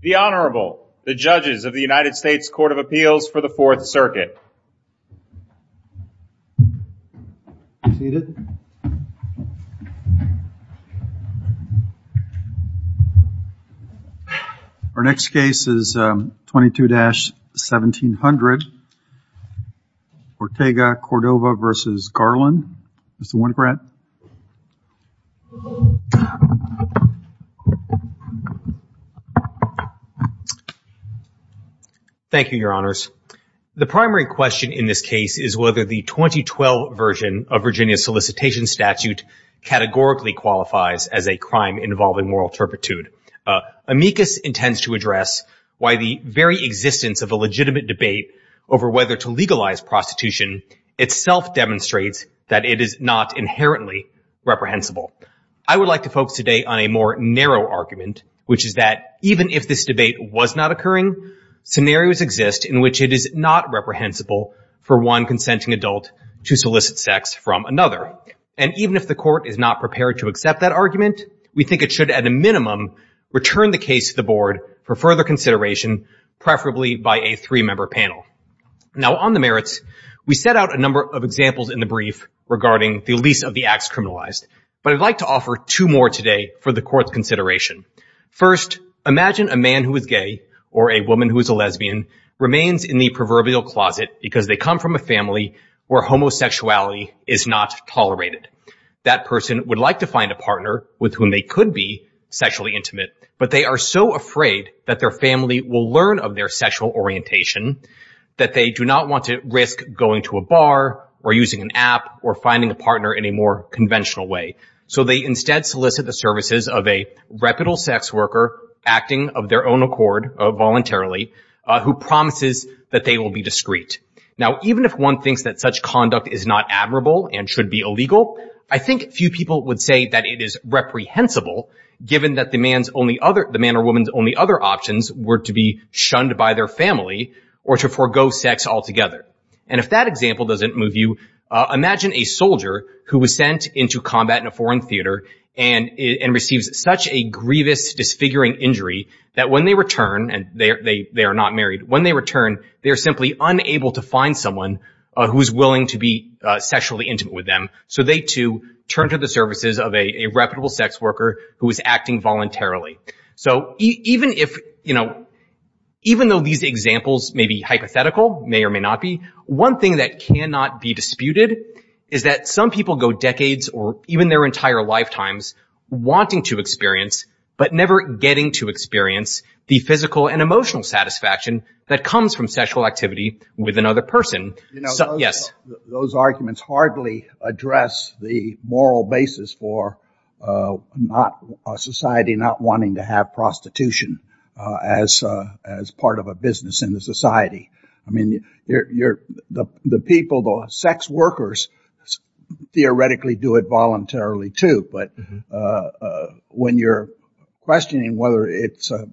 The Honorable, the judges of the United States Court of Appeals for the Fourth Circuit. Our next case is 22-1700, Ortega-Cordova v. Garland. Mr. Winograd. Thank you, Your Honors. The primary question in this case is whether the 2012 version of Virginia's solicitation statute categorically qualifies as a crime involving moral turpitude. Amicus intends to address why the very existence of a legitimate debate over whether to legalize prostitution itself demonstrates that it is not inherently reprehensible. I would like to focus today on a more narrow argument, which is that even if this debate was not occurring, scenarios exist in which it is not reprehensible for one consenting adult to solicit sex from another. And even if the Court is not prepared to accept that argument, we think it should, at a minimum, return the case to the Board for further consideration, preferably by a three-member panel. Now, on the merits, we set out a number of examples in the brief regarding the release of the acts criminalized. But I'd like to offer two more today for the Court's consideration. First, imagine a man who is gay or a woman who is a lesbian remains in the proverbial closet because they come from a family where homosexuality is not tolerated. That person would like to find a partner with whom they could be sexually intimate, but they are so afraid that their family will learn of their sexual orientation that they do not want to risk going to a bar or using an app or finding a partner in a more conventional way. So they instead solicit the services of a reputable sex worker acting of their own accord voluntarily who promises that they will be discreet. Now, even if one thinks that such conduct is not admirable and should be illegal, I think few people would say that it is reprehensible, given that the man or woman's only other options were to be shunned by their family or to forego sex altogether. And if that example doesn't move you, imagine a soldier who was sent into combat in a foreign theater and receives such a grievous, disfiguring injury that when they return, and they are not married, when they return, they are simply unable to find someone who is willing to be sexually intimate with them. So they, too, turn to the services of a reputable sex worker who is acting voluntarily. So even if, you know, even though these examples may be hypothetical, may or may not be, one thing that cannot be disputed is that some people go decades or even their entire lifetimes wanting to experience but never getting to experience the physical and emotional satisfaction that comes from sexual activity with another person. Those arguments hardly address the moral basis for a society not wanting to have prostitution as part of a business in the society. I mean, the people, the sex workers, theoretically do it voluntarily, too, but when you're questioning whether it's a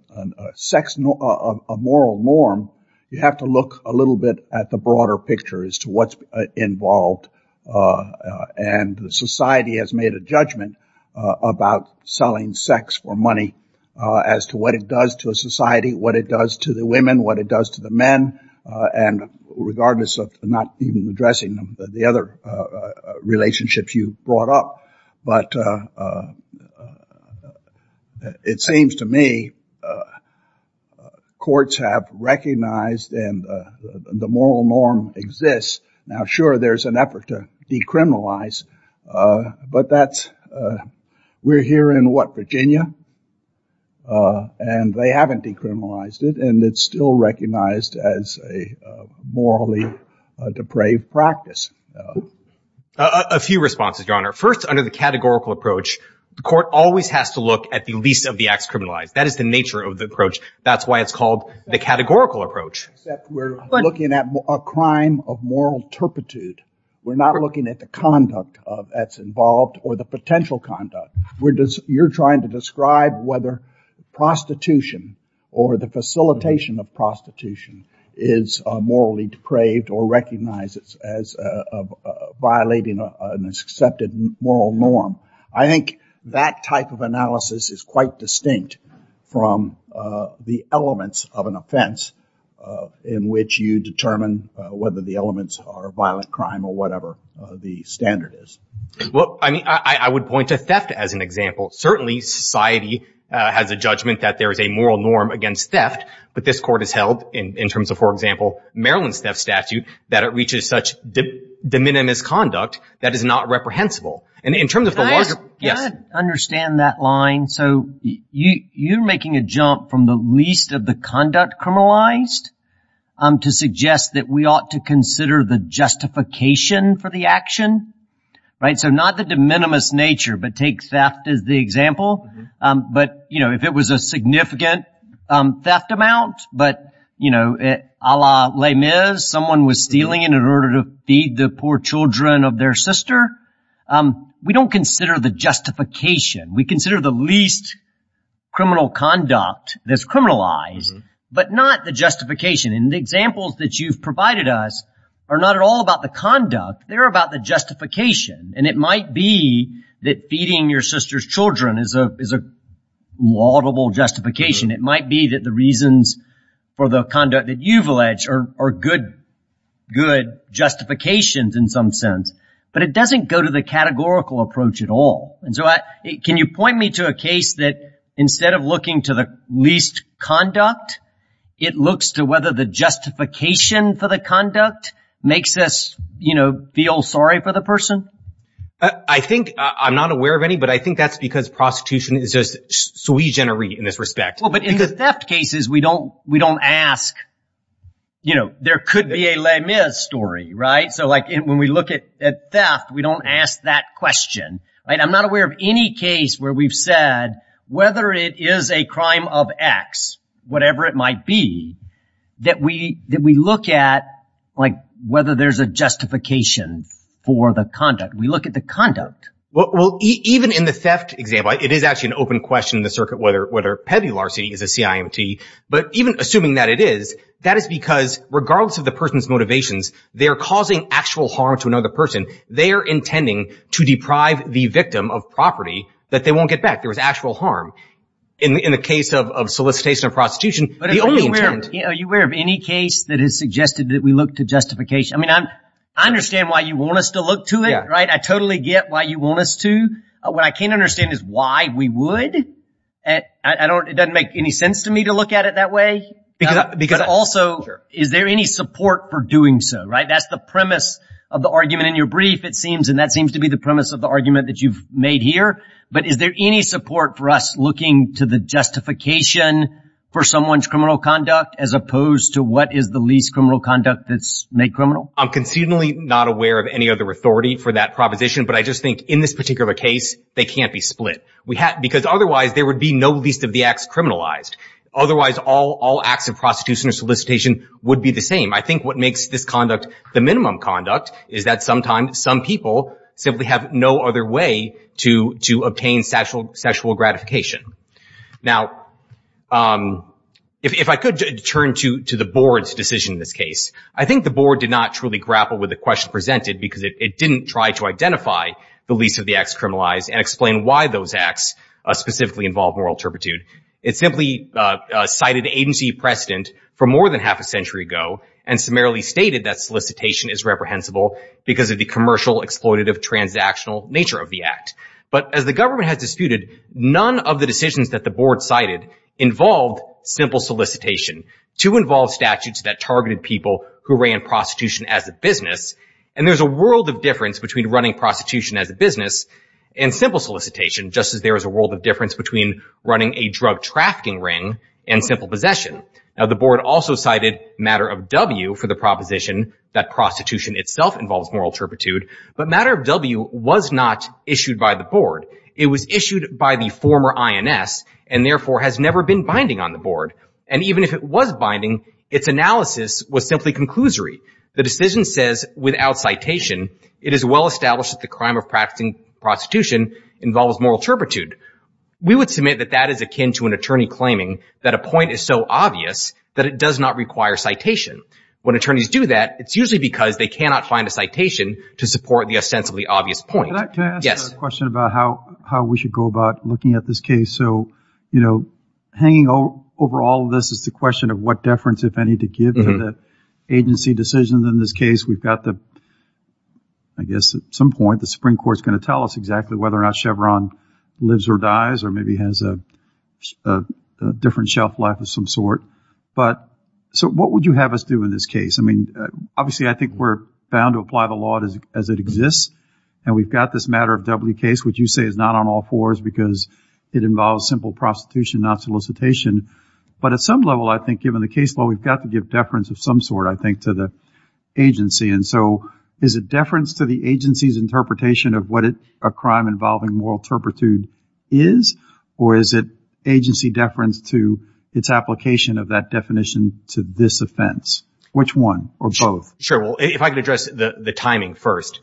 moral norm, you have to look a little bit at the broader picture as to what's involved. And society has made a judgment about selling sex for money as to what it does to a society, what it does to the women, what it does to the men, and regardless of not even addressing the other relationships you brought up. But it seems to me courts have recognized and the moral norm exists. Now, sure, there's an effort to decriminalize, but we're here in, what, Virginia? And they haven't decriminalized it, and it's still recognized as a morally depraved practice. A few responses, Your Honor. First, under the categorical approach, the court always has to look at the least of the acts criminalized. That is the nature of the approach. That's why it's called the categorical approach. Except we're looking at a crime of moral turpitude. We're not looking at the conduct that's involved or the potential conduct. You're trying to describe whether prostitution or the facilitation of prostitution is morally depraved or recognizes as violating an accepted moral norm. I think that type of analysis is quite distinct from the elements of an offense in which you determine whether the elements are violent crime or whatever the standard is. Well, I mean, I would point to theft as an example. Certainly society has a judgment that there is a moral norm against theft, but this court has held in terms of, for example, Maryland's theft statute, that it reaches such de minimis conduct that is not reprehensible. And in terms of the larger- Can I understand that line? So you're making a jump from the least of the conduct criminalized to suggest that we ought to consider the justification for the action, right? So not the de minimis nature, but take theft as the example. But, you know, if it was a significant theft amount, but, you know, a la les mis, someone was stealing in order to feed the poor children of their sister, we don't consider the justification. We consider the least criminal conduct that's criminalized, but not the justification. And the examples that you've provided us are not at all about the conduct. They're about the justification. And it might be that feeding your sister's children is a laudable justification. It might be that the reasons for the conduct that you've alleged are good justifications in some sense, but it doesn't go to the categorical approach at all. And so can you point me to a case that instead of looking to the least conduct, it looks to whether the justification for the conduct makes us, you know, feel sorry for the person? I think I'm not aware of any, but I think that's because prostitution is just sui generis in this respect. Well, but in the theft cases, we don't ask, you know, there could be a la mis story, right? So, like, when we look at theft, we don't ask that question. I'm not aware of any case where we've said whether it is a crime of X, whatever it might be, that we look at, like, whether there's a justification for the conduct. We look at the conduct. Well, even in the theft example, it is actually an open question in the circuit whether Petty Larson is a CIMT. But even assuming that it is, that is because regardless of the person's motivations, they are causing actual harm to another person. They are intending to deprive the victim of property that they won't get back. There is actual harm. In the case of solicitation of prostitution, the only intent. Are you aware of any case that has suggested that we look to justification? I mean, I understand why you want us to look to it, right? I totally get why you want us to. What I can't understand is why we would. It doesn't make any sense to me to look at it that way. But also, is there any support for doing so, right? That's the premise of the argument in your brief, it seems, and that seems to be the premise of the argument that you've made here. But is there any support for us looking to the justification for someone's criminal conduct as opposed to what is the least criminal conduct that's made criminal? I'm conceivably not aware of any other authority for that proposition, but I just think in this particular case, they can't be split. Because otherwise, there would be no least of the acts criminalized. Otherwise, all acts of prostitution or solicitation would be the same. I think what makes this conduct the minimum conduct is that sometimes some people simply have no other way to obtain sexual gratification. Now, if I could turn to the board's decision in this case, I think the board did not truly grapple with the question presented because it didn't try to identify the least of the acts criminalized and explain why those acts specifically involve moral turpitude. It simply cited agency precedent for more than half a century ago and summarily stated that solicitation is reprehensible because of the commercial, exploitative, transactional nature of the act. But as the government has disputed, none of the decisions that the board cited involved simple solicitation to involve statutes that targeted people who ran prostitution as a business. And there's a world of difference between running prostitution as a business and simple solicitation, just as there is a world of difference between running a drug trafficking ring and simple possession. Now, the board also cited Matter of W for the proposition that prostitution itself involves moral turpitude, but Matter of W was not issued by the board. It was issued by the former INS and therefore has never been binding on the board. And even if it was binding, its analysis was simply conclusory. The decision says, without citation, it is well established that the crime of practicing prostitution involves moral turpitude. We would submit that that is akin to an attorney claiming that a point is so obvious that it does not require citation. When attorneys do that, it's usually because they cannot find a citation to support the ostensibly obvious point. Can I ask a question about how we should go about looking at this case? So, you know, hanging over all of this is the question of what deference, if any, to give to the agency decisions in this case. We've got the, I guess at some point the Supreme Court is going to tell us exactly whether or not Chevron lives or dies or maybe has a different shelf life of some sort. But so what would you have us do in this case? I mean, obviously I think we're bound to apply the law as it exists, and we've got this Matter of W case, which you say is not on all fours because it involves simple prostitution, not solicitation. But at some level, I think, given the case law, we've got to give deference of some sort, I think, to the agency. And so is it deference to the agency's interpretation of what a crime involving moral turpitude is? Or is it agency deference to its application of that definition to this offense? Which one or both? Sure. Well, if I could address the timing first.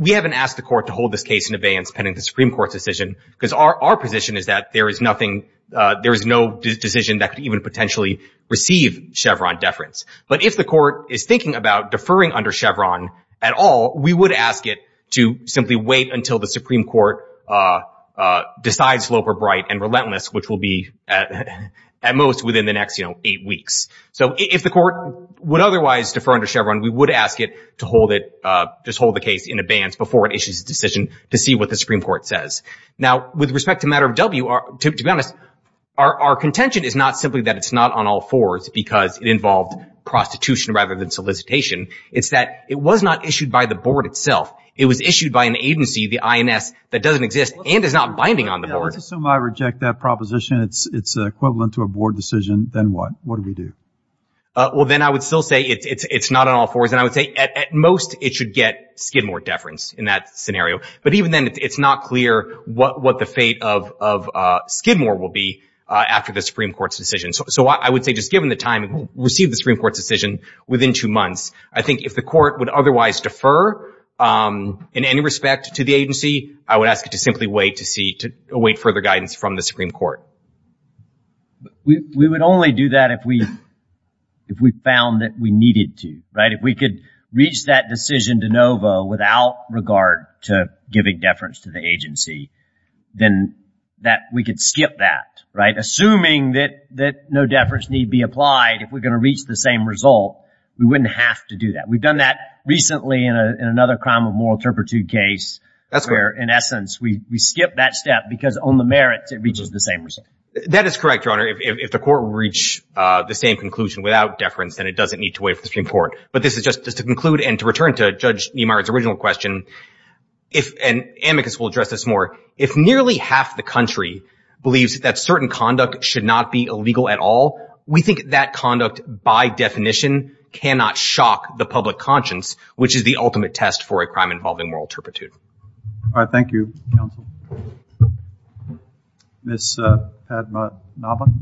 We haven't asked the Court to hold this case in abeyance pending the Supreme Court's decision because our position is that there is nothing, there is no decision that could even potentially receive Chevron deference. But if the Court is thinking about deferring under Chevron at all, we would ask it to simply wait until the Supreme Court decides slope or bright and relentless, which will be at most within the next eight weeks. So if the Court would otherwise defer under Chevron, we would ask it to hold the case in abeyance before it issues a decision to see what the Supreme Court says. Now, with respect to Matter of W, to be honest, our contention is not simply that it's not on all fours because it involved prostitution rather than solicitation. It's that it was not issued by the Board itself. It was issued by an agency, the INS, that doesn't exist and is not binding on the Board. Let's assume I reject that proposition. It's equivalent to a Board decision. Then what? What do we do? Well, then I would still say it's not on all fours. And I would say at most it should get Skidmore deference in that scenario. But even then, it's not clear what the fate of Skidmore will be after the Supreme Court's decision. So I would say just given the time it will receive the Supreme Court's decision within two months, I think if the Court would otherwise defer in any respect to the agency, I would ask it to simply wait to await further guidance from the Supreme Court. We would only do that if we found that we needed to, right? If we could reach that decision de novo without regard to giving deference to the agency, then we could skip that, right? If no deference need be applied, if we're going to reach the same result, we wouldn't have to do that. We've done that recently in another crime of moral turpitude case where, in essence, we skip that step because on the merits it reaches the same result. That is correct, Your Honor. If the Court will reach the same conclusion without deference, then it doesn't need to wait for the Supreme Court. But this is just to conclude and to return to Judge Niemeyer's original question. And Amicus will address this more. If nearly half the country believes that certain conduct should not be illegal at all, we think that conduct by definition cannot shock the public conscience, which is the ultimate test for a crime involving moral turpitude. All right. Thank you, counsel. Ms. Padmanabhan.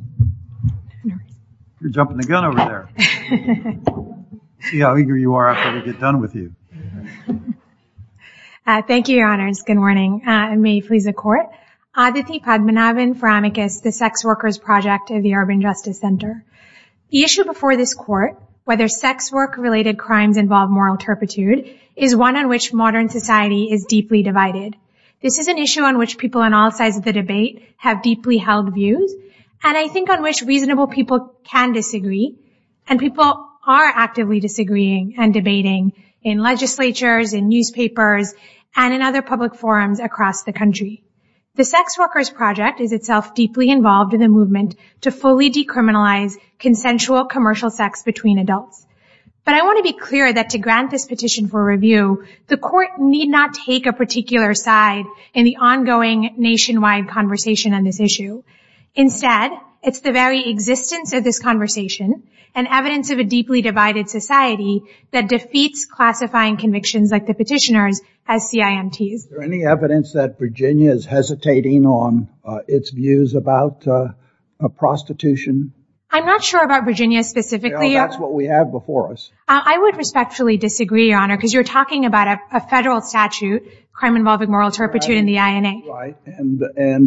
You're jumping the gun over there. Thank you, Your Honors. Good morning. May it please the Court. Aditi Padmanabhan for Amicus, the Sex Workers Project of the Urban Justice Center. The issue before this Court, whether sex work-related crimes involve moral turpitude, is one on which modern society is deeply divided. This is an issue on which people on all sides of the debate have deeply held views and I think on which reasonable people can disagree. And people are actively disagreeing and debating in legislatures, in newspapers, and in other public forums across the country. The Sex Workers Project is itself deeply involved in the movement to fully decriminalize consensual commercial sex between adults. But I want to be clear that to grant this petition for review, the Court need not take a particular side in the ongoing nationwide conversation on this issue. Instead, it's the very existence of this conversation and evidence of a deeply divided society that defeats classifying convictions like the petitioner's as CIMTs. Is there any evidence that Virginia is hesitating on its views about prostitution? I'm not sure about Virginia specifically. Well, that's what we have before us. I would respectfully disagree, Your Honor, because you're talking about a federal statute, crime involving moral turpitude in the INA. And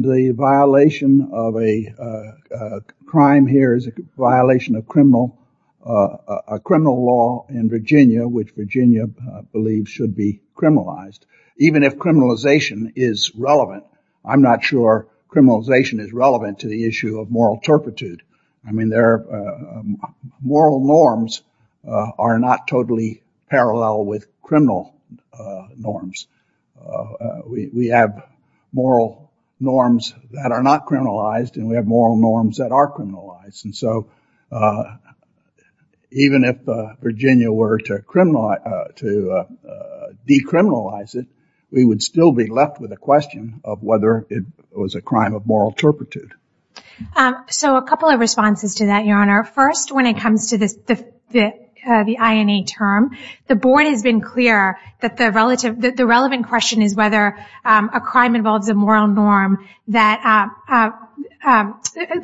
the violation of a crime here is a violation of criminal law in Virginia, which Virginia believes should be criminalized. Even if criminalization is relevant, I'm not sure criminalization is relevant to the issue of moral turpitude. I mean, moral norms are not totally parallel with criminal norms. We have moral norms that are not criminalized, and we have moral norms that are criminalized. And so even if Virginia were to decriminalize it, we would still be left with a question of whether it was a crime of moral turpitude. So a couple of responses to that, Your Honor. First, when it comes to the INA term, the board has been clear that the relevant question is whether a crime involves a moral norm, that a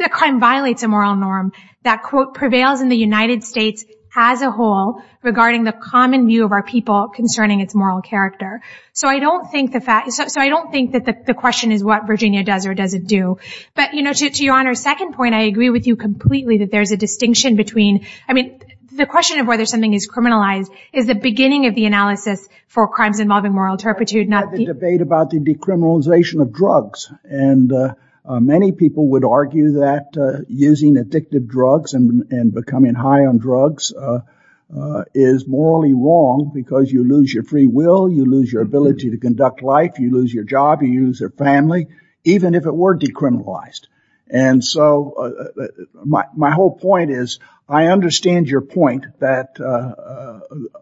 crime violates a moral norm, that, quote, prevails in the United States as a whole, regarding the common view of our people concerning its moral character. So I don't think that the question is what Virginia does or doesn't do. But, you know, to Your Honor's second point, I agree with you completely that there's a distinction between, I mean, the question of whether something is criminalized is the beginning of the analysis for crimes involving moral turpitude, not the... And many people would argue that using addictive drugs and becoming high on drugs is morally wrong because you lose your free will, you lose your ability to conduct life, you lose your job, you lose your family, even if it were decriminalized. And so my whole point is I understand your point that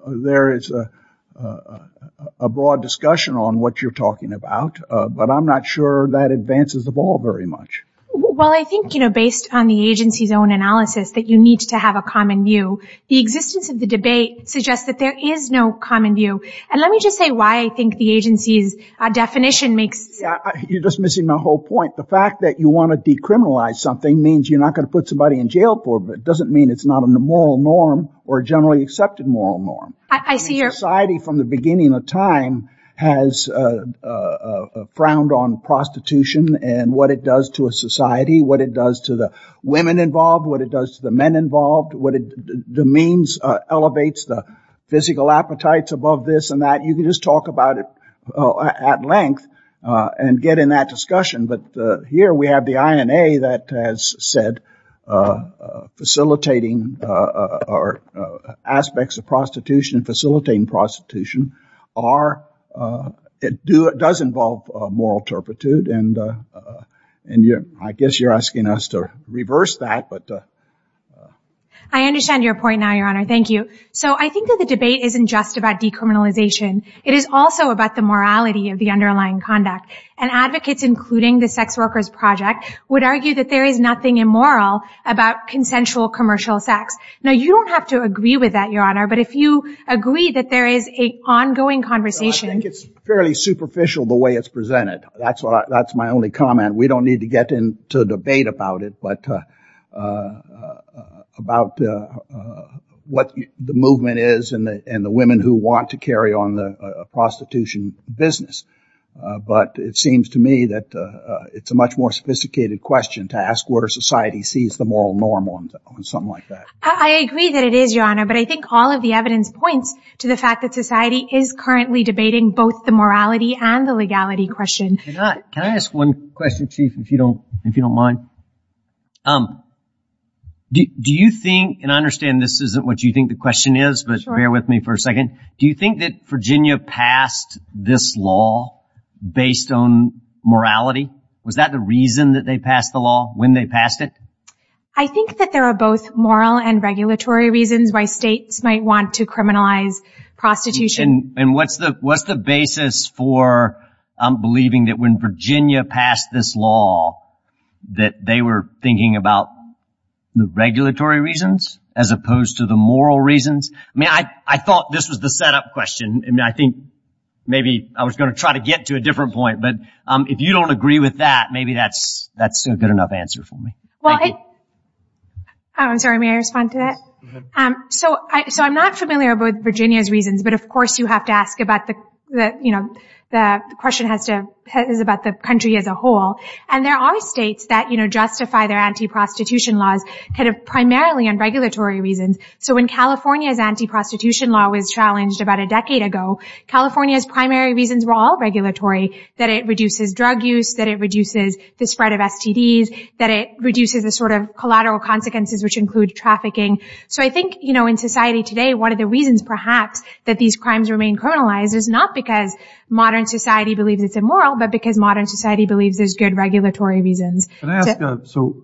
there is a broad discussion on what you're talking about, but I'm not sure that advances the ball very much. Well, I think, you know, based on the agency's own analysis that you need to have a common view. The existence of the debate suggests that there is no common view. And let me just say why I think the agency's definition makes... You're just missing my whole point. The fact that you want to decriminalize something means you're not going to put somebody in jail for it, but it doesn't mean it's not a moral norm or a generally accepted moral norm. I see your... frowned on prostitution and what it does to a society, what it does to the women involved, what it does to the men involved, what it means, elevates the physical appetites above this and that. You can just talk about it at length and get in that discussion. But here we have the INA that has said facilitating aspects of prostitution, facilitating prostitution, does involve moral turpitude, and I guess you're asking us to reverse that. I understand your point now, Your Honor. Thank you. So I think that the debate isn't just about decriminalization. It is also about the morality of the underlying conduct. And advocates, including the Sex Workers Project, would argue that there is nothing immoral about consensual commercial sex. Now, you don't have to agree with that, Your Honor, but if you agree that there is an ongoing conversation... I think it's fairly superficial the way it's presented. That's my only comment. We don't need to get into a debate about it, but about what the movement is and the women who want to carry on the prostitution business. But it seems to me that it's a much more sophisticated question to ask where society sees the moral norm on something like that. I agree that it is, Your Honor, but I think all of the evidence points to the fact that society is currently debating both the morality and the legality question. Can I ask one question, Chief, if you don't mind? Do you think, and I understand this isn't what you think the question is, but bear with me for a second. Do you think that Virginia passed this law based on morality? Was that the reason that they passed the law, when they passed it? I think that there are both moral and regulatory reasons why states might want to criminalize prostitution. And what's the basis for believing that when Virginia passed this law that they were thinking about the regulatory reasons as opposed to the moral reasons? I mean, I thought this was the setup question. I think maybe I was going to try to get to a different point, but if you don't agree with that, maybe that's a good enough answer for me. I'm sorry, may I respond to that? So I'm not familiar about Virginia's reasons, but of course you have to ask about the country as a whole. And there are states that justify their anti-prostitution laws primarily on regulatory reasons. So when California's anti-prostitution law was challenged about a decade ago, California's primary reasons were all regulatory, that it reduces drug use, that it reduces the spread of STDs, that it reduces the sort of collateral consequences which include trafficking. So I think, you know, in society today, one of the reasons perhaps that these crimes remain criminalized is not because modern society believes it's immoral, but because modern society believes there's good regulatory reasons. Can I ask, so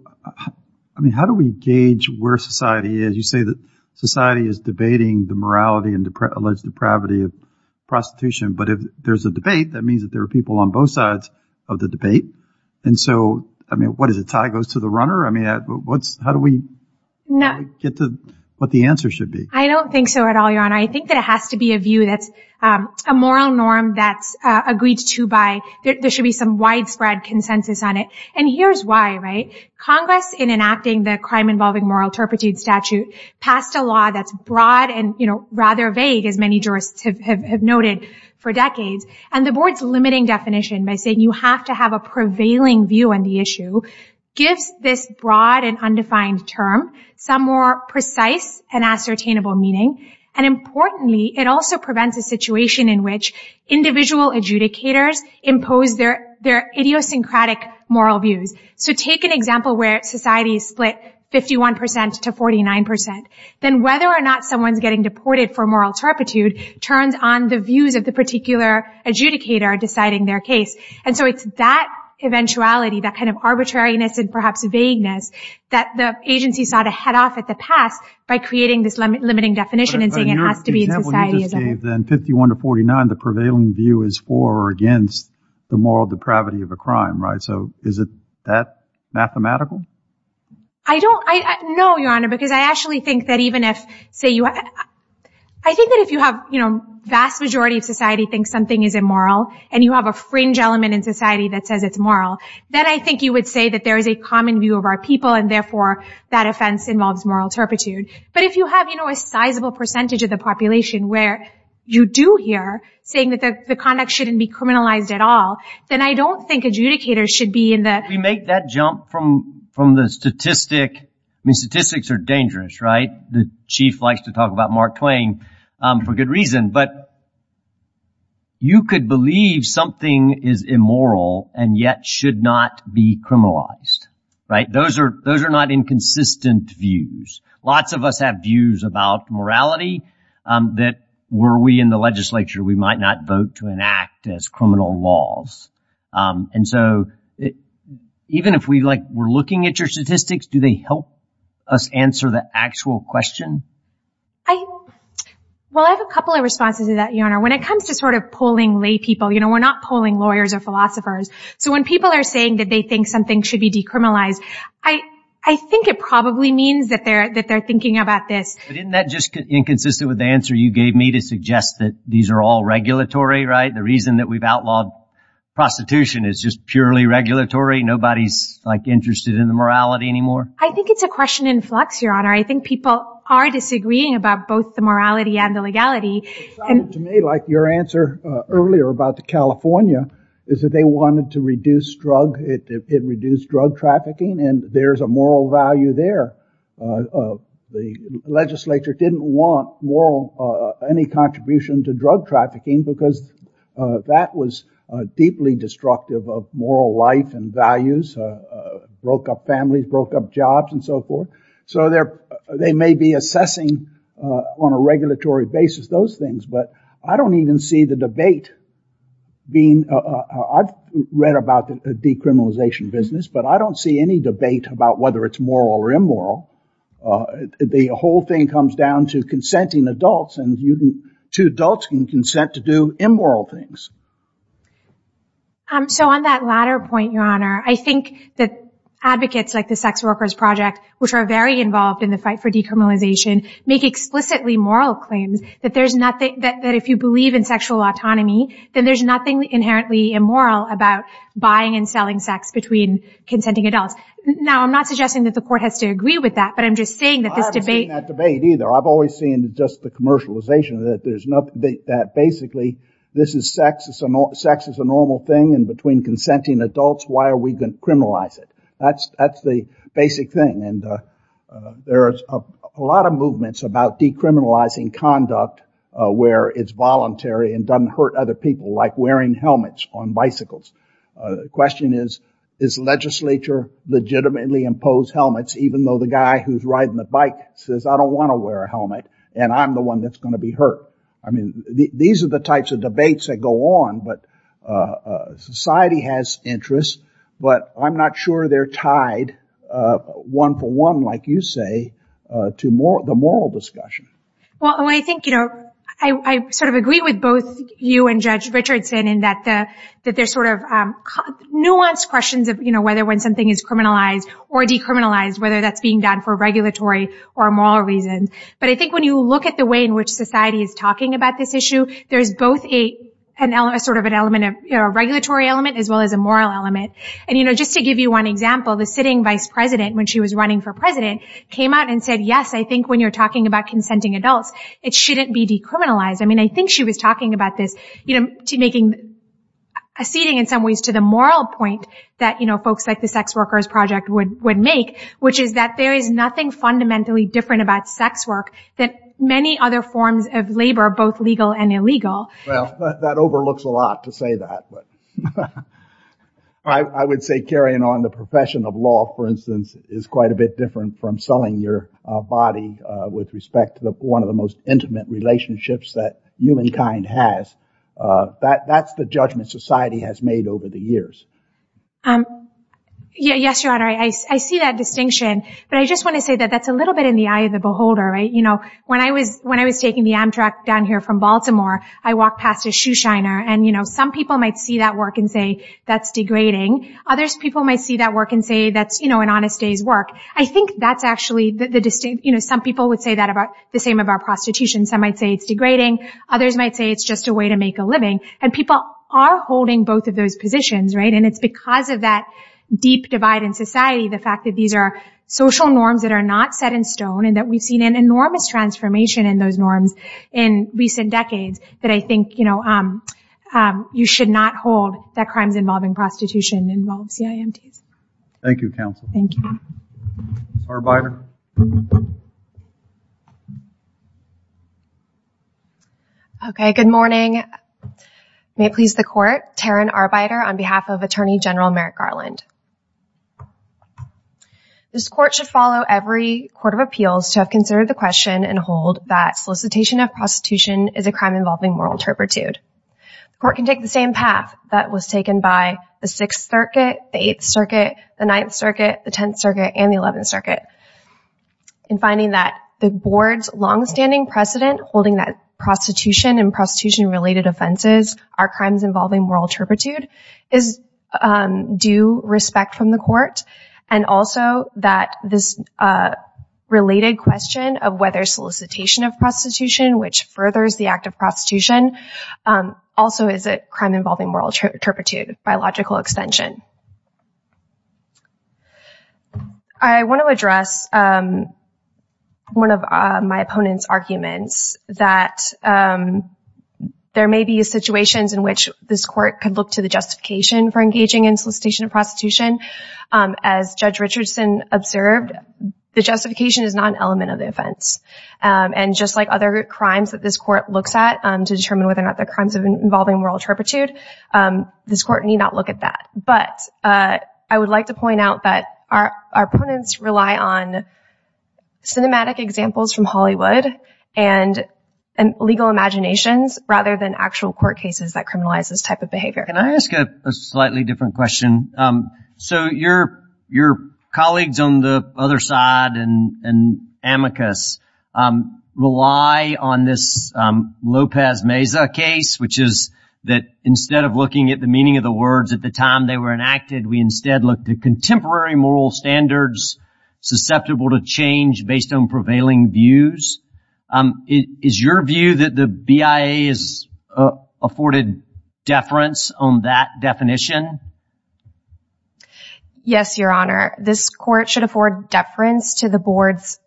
how do we gauge where society is? You say that society is debating the morality and alleged depravity of prostitution, but if there's a debate, that means that there are people on both sides of the debate. And so, I mean, what is it, tie goes to the runner? I mean, how do we get to what the answer should be? I don't think so at all, Your Honor. I think that it has to be a view that's a moral norm that's agreed to by there should be some widespread consensus on it. And here's why, right? Congress, in enacting the crime-involving moral turpitude statute, passed a law that's broad and, you know, rather vague, as many jurists have noted, for decades. And the board's limiting definition by saying you have to have a prevailing view on the issue gives this broad and undefined term some more precise and ascertainable meaning. And importantly, it also prevents a situation in which individual adjudicators impose their idiosyncratic moral views. So take an example where society is split 51% to 49%. Then whether or not someone's getting deported for moral turpitude turns on the views of the particular adjudicator deciding their case. And so it's that eventuality, that kind of arbitrariness and perhaps vagueness, that the agency sought to head off at the pass by creating this limiting definition and saying it has to be in society. But in your example you just gave, then, 51% to 49%, the prevailing view is for or against the moral depravity of a crime, right? So is it that mathematical? I don't – no, Your Honor, because I actually think that even if – I think that if you have, you know, vast majority of society thinks something is immoral and you have a fringe element in society that says it's moral, then I think you would say that there is a common view of our people and therefore that offense involves moral turpitude. But if you have, you know, a sizable percentage of the population where you do hear saying that the conduct shouldn't be criminalized at all, then I don't think adjudicators should be in the – We make that jump from the statistic – I mean, statistics are dangerous, right? The chief likes to talk about Mark Twain for good reason. But you could believe something is immoral and yet should not be criminalized, right? Those are not inconsistent views. Lots of us have views about morality that were we in the legislature, we might not vote to enact as criminal laws. And so even if we, like, were looking at your statistics, do they help us answer the actual question? Well, I have a couple of responses to that, Your Honor. When it comes to sort of polling lay people, you know, we're not polling lawyers or philosophers. So when people are saying that they think something should be decriminalized, I think it probably means that they're thinking about this. But isn't that just inconsistent with the answer you gave me to suggest that these are all regulatory, right? The reason that we've outlawed prostitution is just purely regulatory. Nobody's, like, interested in the morality anymore. I think it's a question in flux, Your Honor. I think people are disagreeing about both the morality and the legality. It sounded to me like your answer earlier about the California, is that they wanted to reduce drug trafficking, and there's a moral value there. The legislature didn't want any contribution to drug trafficking because that was deeply destructive of moral life and values, broke up families, broke up jobs, and so forth. So they may be assessing on a regulatory basis those things, but I don't even see the debate being – I've read about the decriminalization business, but I don't see any debate about whether it's moral or immoral. The whole thing comes down to consenting adults, and two adults can consent to do immoral things. So on that latter point, Your Honor, I think that advocates like the Sex Workers Project, which are very involved in the fight for decriminalization, make explicitly moral claims that if you believe in sexual autonomy, then there's nothing inherently immoral about buying and selling sex between consenting adults. Now, I'm not suggesting that the court has to agree with that, but I'm just saying that this debate – that basically sex is a normal thing, and between consenting adults, why are we going to criminalize it? That's the basic thing, and there are a lot of movements about decriminalizing conduct where it's voluntary and doesn't hurt other people, like wearing helmets on bicycles. The question is, does the legislature legitimately impose helmets even though the guy who's riding the bike says, I don't want to wear a helmet, and I'm the one that's going to be hurt? I mean, these are the types of debates that go on, but society has interests, but I'm not sure they're tied one-for-one, like you say, to the moral discussion. Well, I think I sort of agree with both you and Judge Richardson in that there's sort of nuanced questions of whether when something is criminalized or decriminalized, whether that's being done for regulatory or moral reasons. But I think when you look at the way in which society is talking about this issue, there's both sort of a regulatory element as well as a moral element. And just to give you one example, the sitting vice president, when she was running for president, came out and said, yes, I think when you're talking about consenting adults, it shouldn't be decriminalized. I mean, I think she was talking about this, acceding in some ways to the moral point that folks like the Sex Workers Project would make, which is that there is nothing fundamentally different about sex work than many other forms of labor, both legal and illegal. Well, that overlooks a lot to say that. I would say carrying on the profession of law, for instance, is quite a bit different from selling your body with respect to one of the most intimate relationships that humankind has. That's the judgment society has made over the years. Yes, Your Honor, I see that distinction. But I just want to say that that's a little bit in the eye of the beholder. When I was taking the Amtrak down here from Baltimore, I walked past a shoe shiner, and some people might see that work and say, that's degrading. Others people might see that work and say, that's an honest day's work. I think that's actually the distinction. Some people would say that about the same about prostitution. Some might say it's degrading. Others might say it's just a way to make a living. People are holding both of those positions. It's because of that deep divide in society, the fact that these are social norms that are not set in stone, and that we've seen an enormous transformation in those norms in recent decades, that I think you should not hold that crimes involving prostitution involve CIMTs. Thank you, counsel. Thank you. Arbeiter. Okay, good morning. May it please the court, Taryn Arbeiter, on behalf of Attorney General Merrick Garland. This court should follow every court of appeals to have considered the question and hold that solicitation of prostitution is a crime involving moral turpitude. The court can take the same path that was taken by the Sixth Circuit, the Eighth Circuit, the Ninth Circuit, the Tenth Circuit, and the Eleventh Circuit in finding that the board's longstanding precedent holding that prostitution and prostitution-related offenses are crimes involving moral turpitude is due respect from the court, and also that this related question of whether solicitation of prostitution, which furthers the act of prostitution, also is a crime involving moral turpitude of biological extension. I want to address one of my opponent's arguments that there may be situations in which this court could look to the justification for engaging in solicitation of prostitution. As Judge Richardson observed, the justification is not an element of the offense. And just like other crimes that this court looks at to determine whether or not they're crimes involving moral turpitude, this court need not look at that. But I would like to point out that our opponents rely on cinematic examples from Hollywood and legal imaginations rather than actual court cases that criminalize this type of behavior. Can I ask a slightly different question? So your colleagues on the other side and amicus rely on this Lopez Meza case, which is that instead of looking at the meaning of the words at the time they were enacted, we instead looked at contemporary moral standards susceptible to change based on prevailing views. Is your view that the BIA has afforded deference on that definition? Yes, Your Honor. This court should afford deference to the board's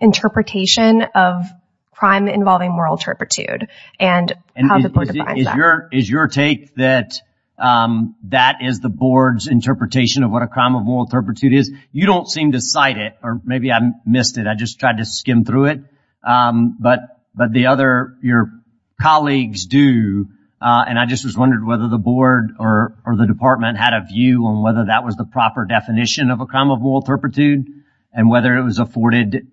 interpretation of crime involving moral turpitude and how the board defines that. Is your take that that is the board's interpretation of what a crime of moral turpitude is? You don't seem to cite it, or maybe I missed it. I just tried to skim through it. But the other, your colleagues do, and I just was wondering whether the board or the department had a view on whether that was the proper definition of a crime of moral turpitude and whether it was afforded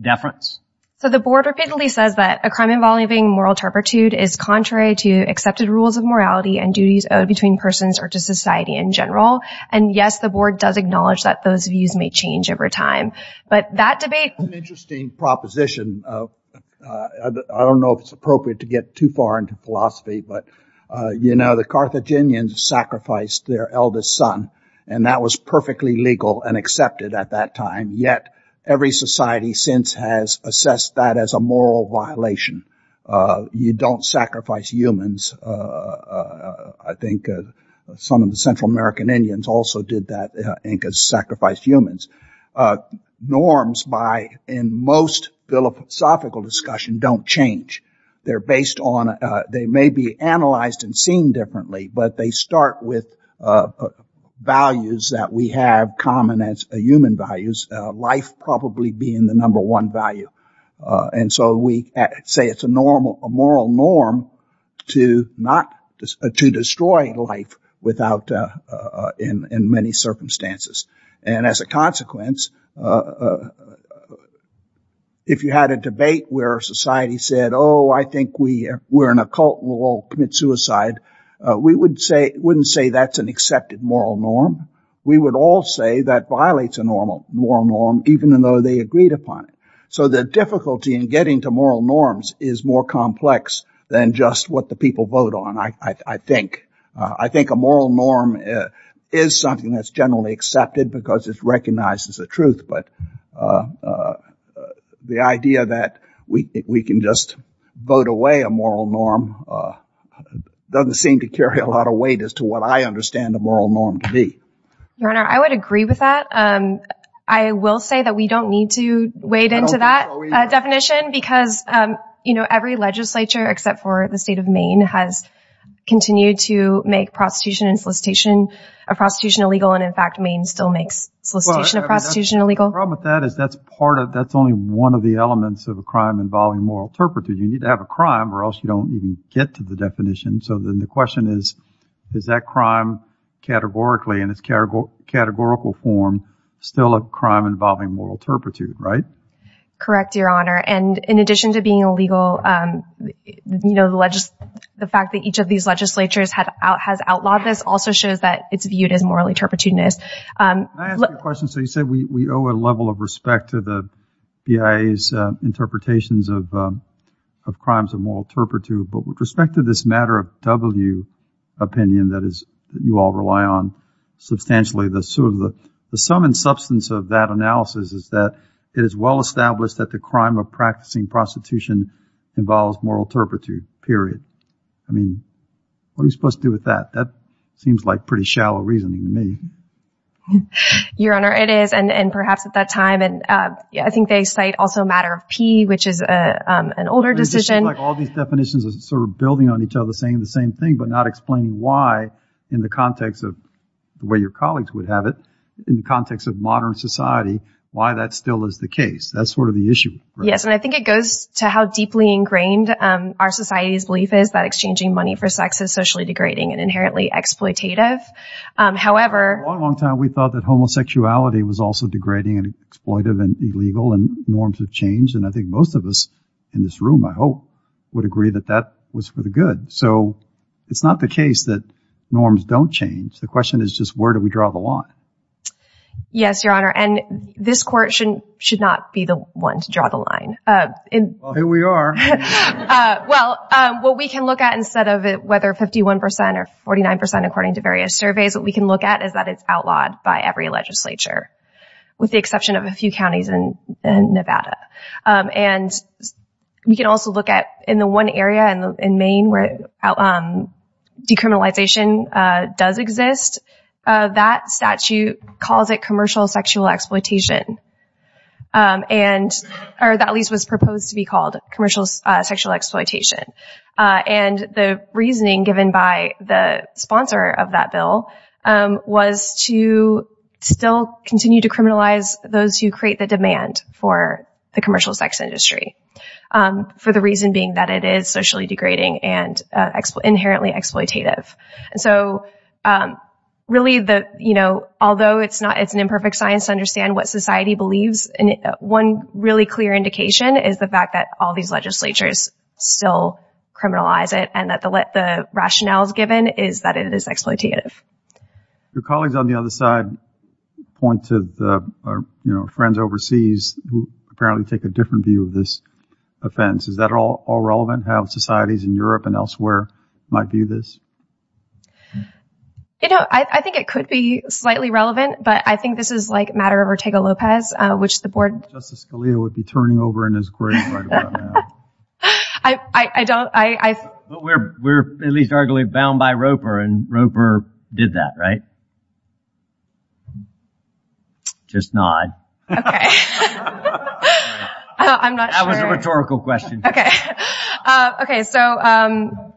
deference. So the board repeatedly says that a crime involving moral turpitude is contrary to accepted rules of morality and duties owed between persons or to society in general. And yes, the board does acknowledge that those views may change over time. But that debate... That's an interesting proposition. I don't know if it's appropriate to get too far into philosophy, but, you know, the Carthaginians sacrificed their eldest son, and that was perfectly legal and accepted at that time. Yet every society since has assessed that as a moral violation. You don't sacrifice humans. I think some of the Central American Indians also did that, and sacrificed humans. Norms in most philosophical discussion don't change. They're based on... They may be analyzed and seen differently, but they start with values that we have common as human values, life probably being the number one value. And so we say it's a moral norm to not... in many circumstances. And as a consequence, if you had a debate where society said, oh, I think we're an occult, we'll all commit suicide, we wouldn't say that's an accepted moral norm. We would all say that violates a moral norm, even though they agreed upon it. So the difficulty in getting to moral norms is more complex than just what the people vote on, I think. I think a moral norm is something that's generally accepted because it's recognized as a truth, but the idea that we can just vote away a moral norm doesn't seem to carry a lot of weight as to what I understand a moral norm to be. Your Honor, I would agree with that. I will say that we don't need to wade into that definition because every legislature except for the state of Maine has continued to make prostitution and solicitation of prostitution illegal and, in fact, Maine still makes solicitation of prostitution illegal. The problem with that is that's only one of the elements of a crime involving moral turpitude. You need to have a crime or else you don't even get to the definition. So then the question is, is that crime categorically, in its categorical form, still a crime involving moral turpitude, right? Correct, Your Honor. And in addition to being illegal, the fact that each of these legislatures has outlawed this also shows that it's viewed as moral turpitude. Can I ask you a question? So you said we owe a level of respect to the BIA's interpretations of crimes of moral turpitude, but with respect to this matter of W opinion that you all rely on substantially, the sum and substance of that analysis is that it is well established that the crime of practicing prostitution involves moral turpitude, period. I mean, what are you supposed to do with that? That seems like pretty shallow reasoning to me. Your Honor, it is, and perhaps at that time, I think they cite also a matter of P, which is an older decision. It seems like all these definitions are sort of building on each other, saying the same thing, but not explaining why in the context of the way your colleagues would have it, in the context of modern society, why that still is the case. That's sort of the issue, right? Yes, and I think it goes to how deeply ingrained our society's belief is that exchanging money for sex is socially degrading and inherently exploitative. However— For a long, long time, we thought that homosexuality was also degrading and exploitive and illegal, and norms have changed, and I think most of us in this room, I hope, would agree that that was for the good. So it's not the case that norms don't change. The question is just where do we draw the line? Yes, Your Honor, and this Court should not be the one to draw the line. Well, here we are. Well, what we can look at instead of whether 51% or 49%, according to various surveys, what we can look at is that it's outlawed by every legislature, with the exception of a few counties in Nevada. And we can also look at, in the one area in Maine where decriminalization does exist, that statute calls it commercial sexual exploitation, or at least was proposed to be called commercial sexual exploitation. And the reasoning given by the sponsor of that bill was to still continue to criminalize those who create the demand for the commercial sex industry, for the reason being that it is socially degrading and inherently exploitative. And so really, although it's an imperfect science to understand what society believes, one really clear indication is the fact that all these legislatures still criminalize it and that the rationale given is that it is exploitative. Your colleagues on the other side point to friends overseas who apparently take a different view of this offense. Is that all relevant, how societies in Europe and elsewhere might view this? You know, I think it could be slightly relevant, but I think this is like a matter of Ortega-Lopez, which the board... Justice Scalia would be turning over in his grave right about now. I don't... We're at least arguably bound by Roper, and Roper did that, right? Just nod. Okay. I'm not sure... That was a rhetorical question. Okay. Okay, so...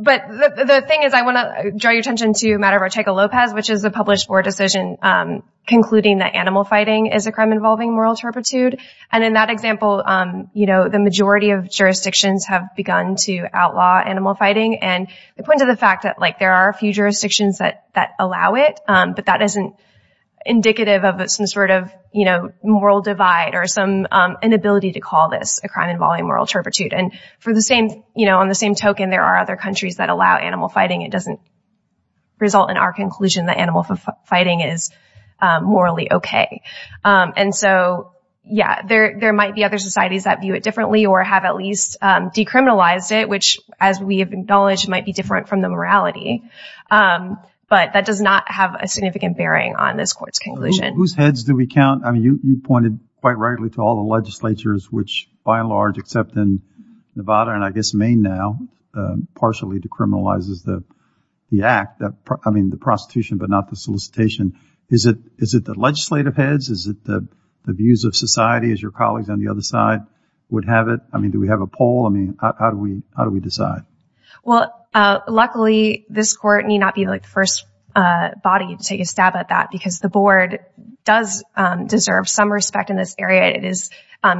But the thing is I want to draw your attention to a matter of Ortega-Lopez, which is a published board decision concluding that animal fighting is a crime involving moral turpitude. And in that example, you know, the majority of jurisdictions have begun to outlaw animal fighting, and they point to the fact that, like, there are a few jurisdictions that allow it, but that isn't indicative of some sort of, you know, moral divide or some inability to call this a crime involving moral turpitude. And for the same... You know, on the same token, there are other countries that allow animal fighting. It doesn't result in our conclusion that animal fighting is morally okay. And so, yeah, there might be other societies that view it differently or have at least decriminalized it, which, as we have acknowledged, might be different from the morality. But that does not have a significant bearing on this court's conclusion. Whose heads do we count? I mean, you pointed quite rightly to all the legislatures, which, by and large, except in Nevada and, I guess, Maine now, partially decriminalizes the act, I mean, the prostitution but not the solicitation. Is it the legislative heads? Is it the views of society, as your colleagues on the other side would have it? I mean, do we have a poll? I mean, how do we decide? Well, luckily, this court need not be the first body to take a stab at that because the board does deserve some respect in this area. It is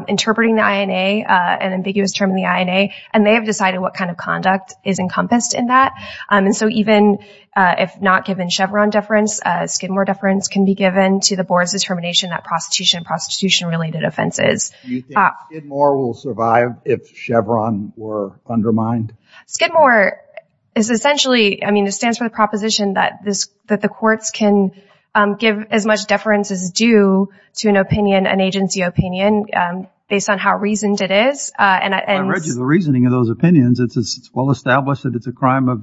interpreting the INA, an ambiguous term in the INA, and they have decided what kind of conduct is encompassed in that. And so even if not given Chevron deference, Skidmore deference can be given to the board's determination that prostitution and prostitution-related offenses... Do you think Skidmore will survive if Chevron were undermined? Skidmore is essentially, I mean, it stands for the proposition that the courts can give as much deference as due to an opinion, an agency opinion, based on how reasoned it is. I read you the reasoning of those opinions. It's well established that it's a crime of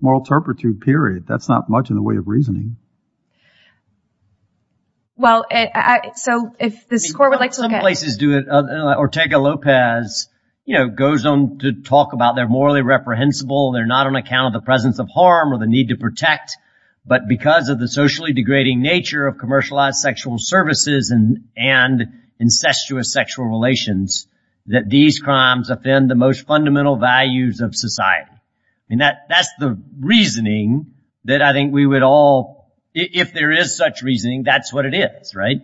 moral turpitude, period. That's not much in the way of reasoning. Well, so if this court would like to look at... Some places do it. Ortega-Lopez, you know, goes on to talk about they're morally reprehensible, they're not on account of the presence of harm or the need to protect, but because of the socially degrading nature of commercialized sexual services and incestuous sexual relations, that these crimes offend the most fundamental values of society. I mean, that's the reasoning that I think we would all... If there is such reasoning, that's what it is, right?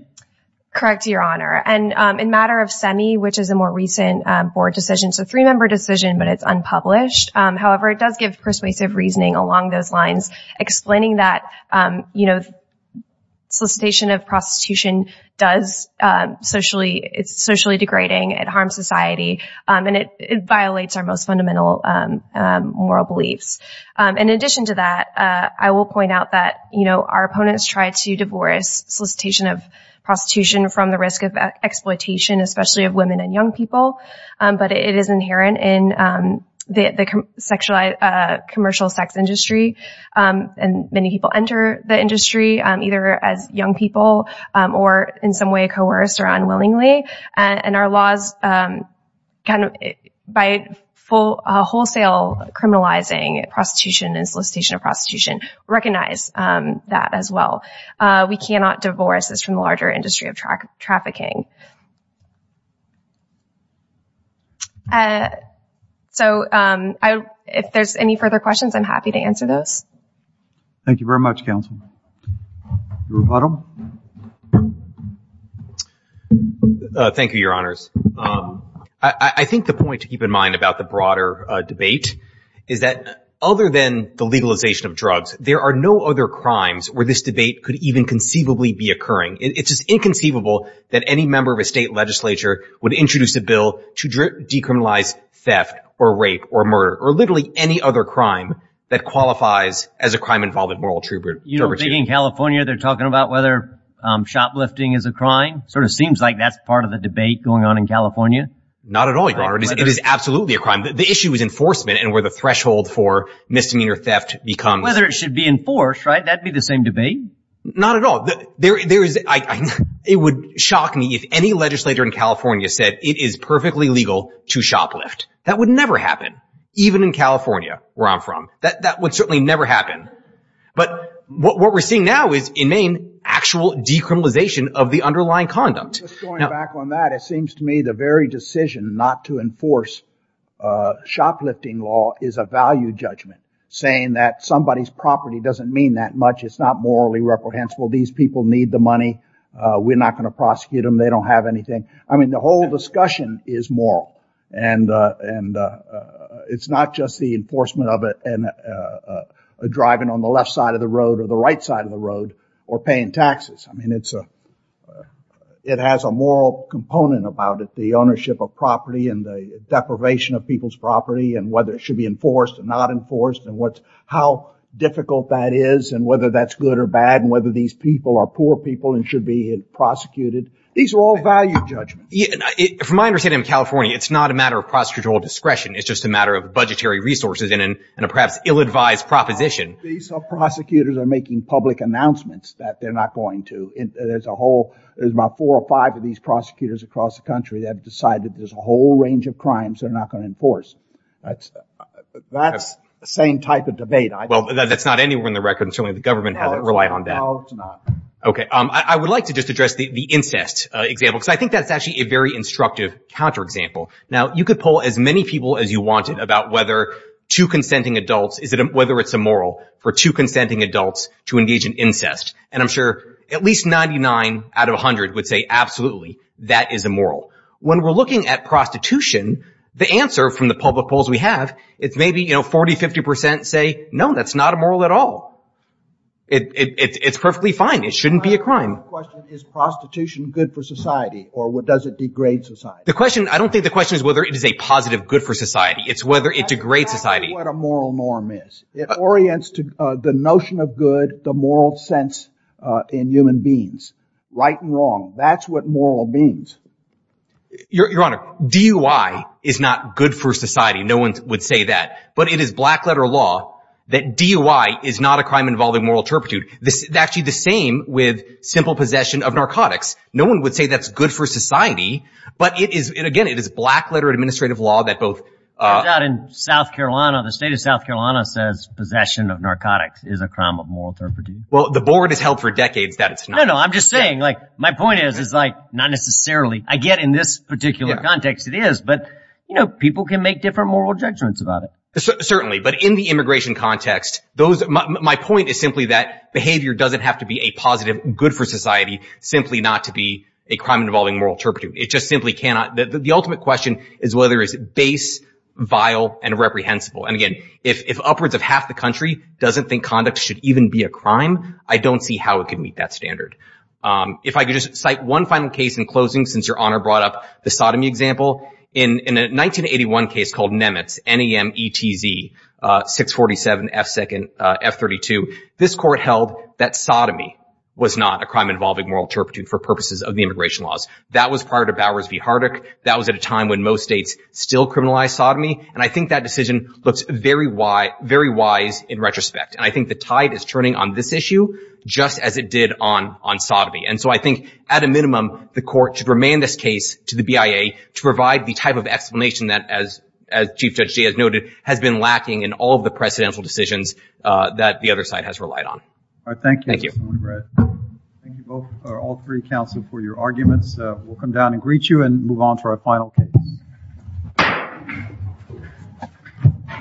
Correct, Your Honor. And in matter of SEMI, which is a more recent board decision, it's a three-member decision, but it's unpublished. However, it does give persuasive reasoning along those lines, explaining that solicitation of prostitution is socially degrading, it harms society, and it violates our most fundamental moral beliefs. In addition to that, I will point out that our opponents try to divorce solicitation of prostitution from the risk of exploitation, especially of women and young people, but it is inherent in the commercial sex industry, and many people enter the industry either as young people or in some way coerced or unwillingly, and our laws by wholesale criminalizing prostitution and solicitation of prostitution recognize that as well. We cannot divorce this from the larger industry of trafficking. So if there's any further questions, I'm happy to answer those. Thank you very much, counsel. Your Honor. Thank you, Your Honors. I think the point to keep in mind about the broader debate is that other than the legalization of drugs, there are no other crimes where this debate could even conceivably be occurring. It's just inconceivable that any member of a state legislature would introduce a bill to decriminalize theft or rape or murder or literally any other crime that qualifies as a crime involving moral turpitude. You don't think in California they're talking about whether shoplifting is a crime? It sort of seems like that's part of the debate going on in California. Not at all, Your Honor. It is absolutely a crime. The issue is enforcement and where the threshold for misdemeanor theft becomes. Whether it should be enforced, right? That would be the same debate. Not at all. It would shock me if any legislator in California said it is perfectly legal to shoplift. That would never happen, even in California, where I'm from. That would certainly never happen. But what we're seeing now is, in Maine, actual decriminalization of the underlying conduct. Going back on that, it seems to me the very decision not to enforce shoplifting law is a value judgment, saying that somebody's property doesn't mean that much, it's not morally reprehensible, these people need the money, we're not going to prosecute them, they don't have anything. I mean, the whole discussion is moral. And it's not just the enforcement of it and driving on the left side of the road or the right side of the road or paying taxes. I mean, it has a moral component about it, the ownership of property and the deprivation of people's property and whether it should be enforced or not enforced and how difficult that is and whether that's good or bad and whether these people are poor people and should be prosecuted. These are all value judgments. From my understanding in California, it's not a matter of prosecutorial discretion. It's just a matter of budgetary resources and a perhaps ill-advised proposition. These prosecutors are making public announcements that they're not going to. There's about four or five of these prosecutors across the country that have decided there's a whole range of crimes they're not going to enforce. That's the same type of debate. Well, that's not anywhere in the record, and certainly the government doesn't rely on that. No, it's not. Okay. I would like to just address the incest example because I think that's actually a very instructive counterexample. Now, you could poll as many people as you wanted about whether two consenting adults, whether it's immoral for two consenting adults to engage in incest, and I'm sure at least 99 out of 100 would say absolutely that is immoral. When we're looking at prostitution, the answer from the public polls we have, it's maybe, you know, 40, 50 percent say no, that's not immoral at all. It's perfectly fine. It shouldn't be a crime. My question is, is prostitution good for society or does it degrade society? The question, I don't think the question is whether it is a positive good for society. It's whether it degrades society. That's what a moral norm is. It orients to the notion of good, the moral sense in human beings. Right and wrong, that's what moral means. Your Honor, DUI is not good for society. No one would say that. But it is black letter law that DUI is not a crime involving moral turpitude. It's actually the same with simple possession of narcotics. No one would say that's good for society. But it is, again, it is black letter administrative law that both. Turns out in South Carolina, the state of South Carolina says possession of narcotics is a crime of moral turpitude. Well, the board has held for decades that it's not. No, no, I'm just saying, like, my point is, is like, not necessarily. I get in this particular context it is, but, you know, people can make different moral judgments about it. Certainly. But in the immigration context, those, my point is simply that behavior doesn't have to be a positive good for society, simply not to be a crime involving moral turpitude. It just simply cannot. The ultimate question is whether it's base, vile, and reprehensible. And, again, if upwards of half the country doesn't think conduct should even be a crime, I don't see how it can meet that standard. If I could just cite one final case in closing, since Your Honor brought up the sodomy example. In a 1981 case called Nemetz, N-E-M-E-T-Z, 647 F-32, this court held that sodomy was not a crime involving moral turpitude for purposes of the immigration laws. That was prior to Bowers v. Hardick. That was at a time when most states still criminalized sodomy. And I think that decision looks very wise in retrospect. And I think the tide is turning on this issue just as it did on sodomy. And so I think, at a minimum, the court should remand this case to the BIA to provide the type of explanation that, as Chief Judge Jay has noted, has been lacking in all of the precedential decisions that the other side has relied on. All right. Thank you. Thank you. Thank you both or all three counsel for your arguments. We'll come down and greet you and move on to our final case.